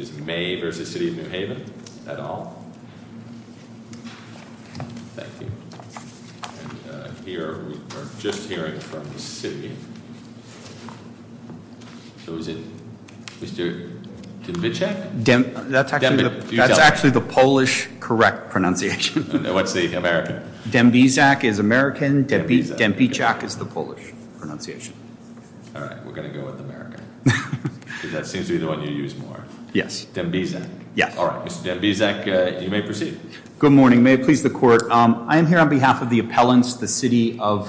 is Maye v. City of New Haven, et al. Thank you. We are just hearing from the city. So is it Mr. Dębiczak? That's actually the Polish correct pronunciation. What's the American? Dębiczak is American. Dębiczak is the Polish pronunciation. All right. We're going to go with America. Because that seems to be the one you use more. Dębiczak. Good morning. May it please the Court. I am here on behalf of the appellants, the City of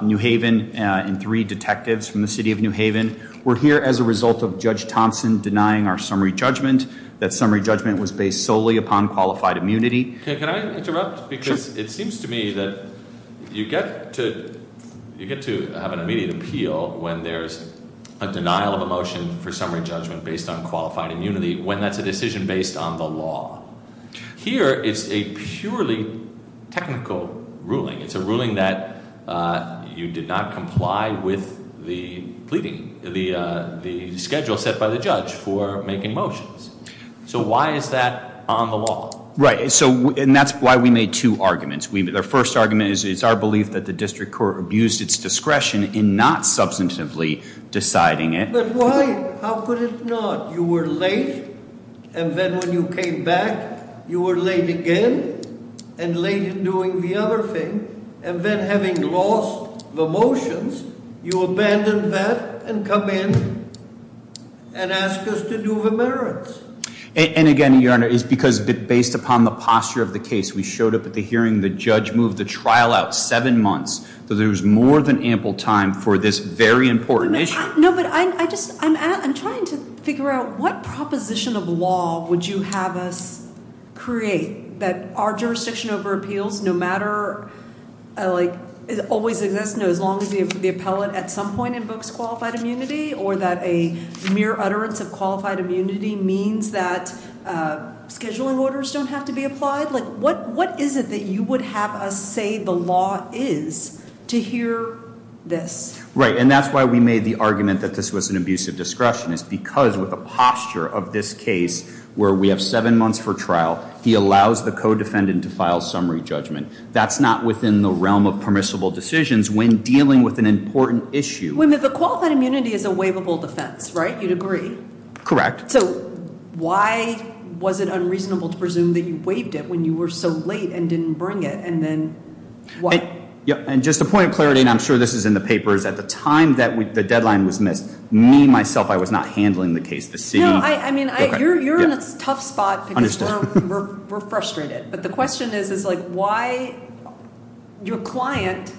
New Haven, and three detectives from the City of New Haven. We're here as a result of Judge Thompson denying our summary judgment. That summary judgment was based solely upon qualified immunity. Can I interrupt? Because it seems to me that you get to have an immediate appeal when there's a denial of a motion for summary judgment based on qualified immunity when that's a decision based on the law. Here it's a purely technical ruling. It's a ruling that you did not comply with the schedule set by the judge for making motions. So why is that on the law? Right. And that's why we made two arguments. The first argument is it's our belief that the district court abused its discretion in not substantively deciding it. But why? How could it not? You were late and then when you came back, you were late again and late in doing the other thing. And then having lost the motions, you abandoned that and come in and ask us to do the merits. And again, Your Honor, it's because based upon the posture of the case, we showed up at the hearing, the judge moved the trial out seven months. So there's more than ample time for this very important issue. I'm trying to figure out what proposition of law would you have us create that our jurisdiction over appeals no matter as long as the appellate at some point invokes qualified immunity or that a mere utterance of qualified immunity means that scheduling orders don't have to be you would have us say the law is to hear this. Right. And that's why we made the argument that this was an abusive discretion. It's because with the posture of this case where we have seven months for trial, he allows the co-defendant to file summary judgment. That's not within the realm of permissible decisions when dealing with an important issue. The qualified immunity is a waivable defense, right? You'd agree? Correct. So why was it unreasonable to presume that you were so late and didn't bring it and then why? And just a point of clarity, and I'm sure this is in the papers, at the time that the deadline was missed me, myself, I was not handling the case. You're in a tough spot because we're frustrated. But the question is why your client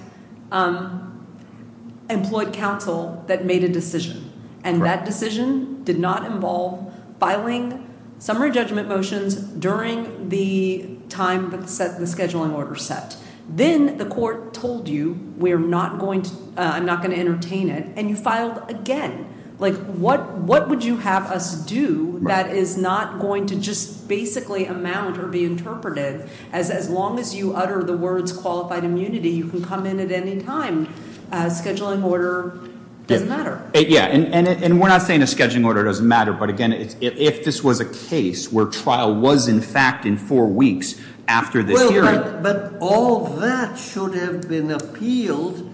employed counsel that made a decision. And that decision did not involve filing summary judgment motions during the time that the scheduling order set. Then the court told you, I'm not going to entertain it, and you filed again. What would you have us do that is not going to just basically amount or be interpreted as as long as you utter the words qualified immunity you can come in at any time. A scheduling order doesn't matter. Yeah. And we're not saying a scheduling order doesn't matter. But again, if this was a case where trial was in fact in four weeks after this hearing. But all that should have been appealed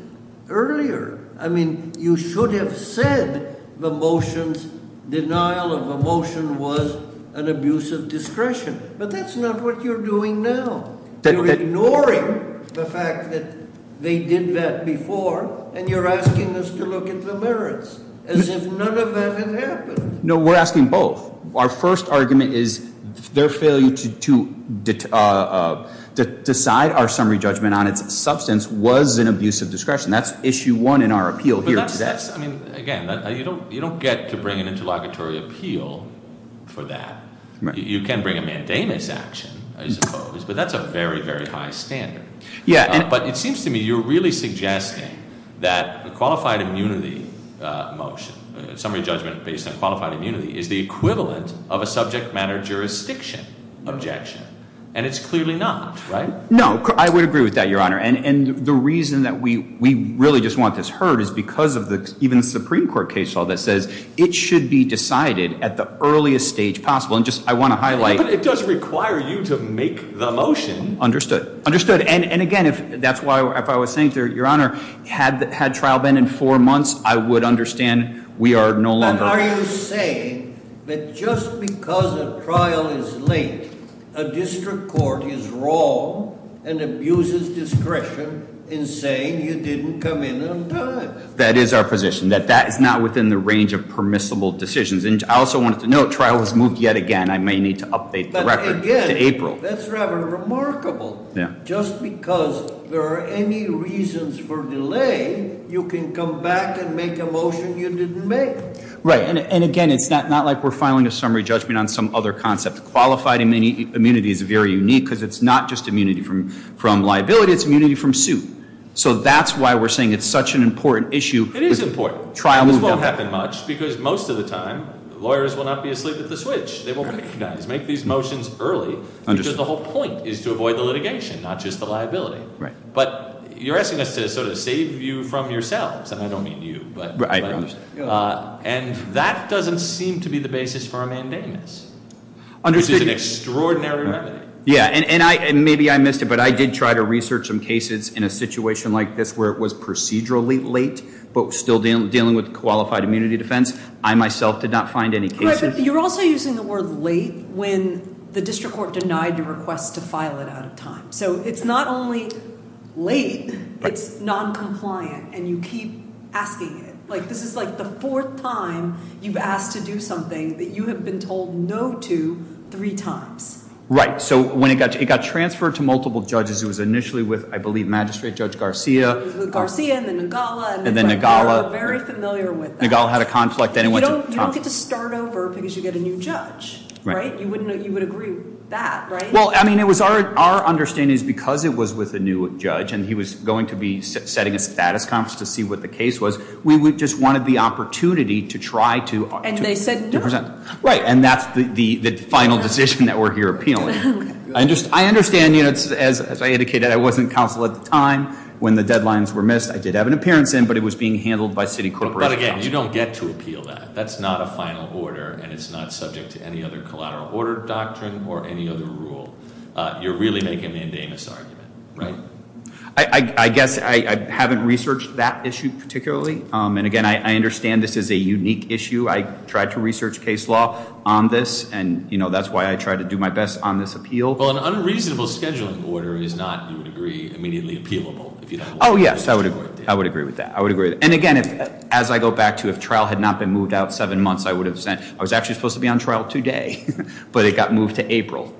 earlier. I mean, you should have said the motion's denial of a motion was an abuse of discretion. But that's not what you're doing now. You're ignoring the fact that they did that before and you're asking us to look at the merits as if none of that had happened. Our first argument is their failure to decide our summary judgment on its substance was an abuse of discretion. That's issue one in our appeal here today. You don't get to bring an interlocutory appeal for that. You can bring a mandamus action, I suppose. But that's a very, very high standard. But it seems to me you're really suggesting that a qualified immunity motion, a summary judgment based on qualified immunity, is the equivalent of a subject matter jurisdiction objection. And it's clearly not, right? No. I would agree with that, Your Honor. And the reason that we really just want this heard is because of even the Supreme Court case law that says it should be decided at the earliest stage possible. And just, I want to highlight. But it does require you to make the motion. Understood. Understood. And again, that's why if I was saying, Your Honor, had trial been in four months, I would understand we are no longer... But are you saying that just because a trial is late, a district court is wrong and abuses discretion in saying you didn't come in on time? That is our position. That that is not within the range of permissible decisions. And I also wanted to note, trial has moved yet again. I may need to update the record to April. But again, that's rather remarkable. Yeah. Just because there are any reasons for delay, you can come back and make a motion you didn't make. Right. And again, it's not like we're filing a summary judgment on some other concept. Qualified immunity is very unique because it's not just immunity from liability, it's immunity from suit. So that's why we're saying it's such an important issue. It is important. Trial moved yet again. This won't happen much because most of the time, lawyers will not be asleep at the switch. They will recognize, make these motions early because the whole point is to avoid the litigation, not just the liability. Right. But you're asking us to sort of save you from yourselves. And I don't mean you, but I understand. And that doesn't seem to be the basis for a mandamus. Understood. Which is an extraordinary remedy. Yeah. And maybe I missed it, but I did try to research some cases in a situation like this where it was procedurally late, but still dealing with qualified immunity defense. I myself did not find any cases. You're also using the word late when the district court denied your request to file it out of time. So it's not only late, it's noncompliant. And you keep asking it. This is like the fourth time you've asked to do something that you have been told no to three times. Right. So when it got transferred to multiple judges, it was initially with, I believe, Magistrate Judge Garcia. It was with Garcia and then Nagala. And then Nagala. Very familiar with that. Nagala had a conflict. You don't get to start over because you get a new judge. Right. You would agree with that, right? Well, I mean, it was our understanding is because it was with a new judge and he was going to be setting a status conference to see what the case was, we just wanted the opportunity to try to present. And they said no. Right. And that's the final decision that we're here appealing. I understand, as I indicated, I wasn't counsel at the time when the deadlines were missed. I did have an appearance in, but it was being handled by City Corporation. But again, you don't get to appeal that. That's not a final order and it's not subject to any other collateral order doctrine or any other rule. You're really making a mandamus argument, right? I guess I haven't researched that issue particularly. And again, I understand this is a unique issue. I tried to research case law on this and that's why I tried to do my best on this appeal. Well, an unreasonable scheduling order is not, you would agree, immediately appealable. Oh, yes. I would agree with that. And again, as I go back to if trial had not been moved out seven months, I was actually supposed to be on trial today. But it got moved to April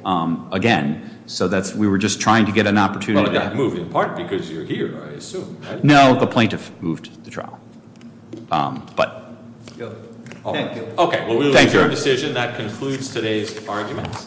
again. So that's, we were just trying to get an opportunity. Well, it got moved in part because you're here, I assume. No, the plaintiff moved the trial. Thank you. Okay. Well, we will adjourn the decision. That concludes today's argument.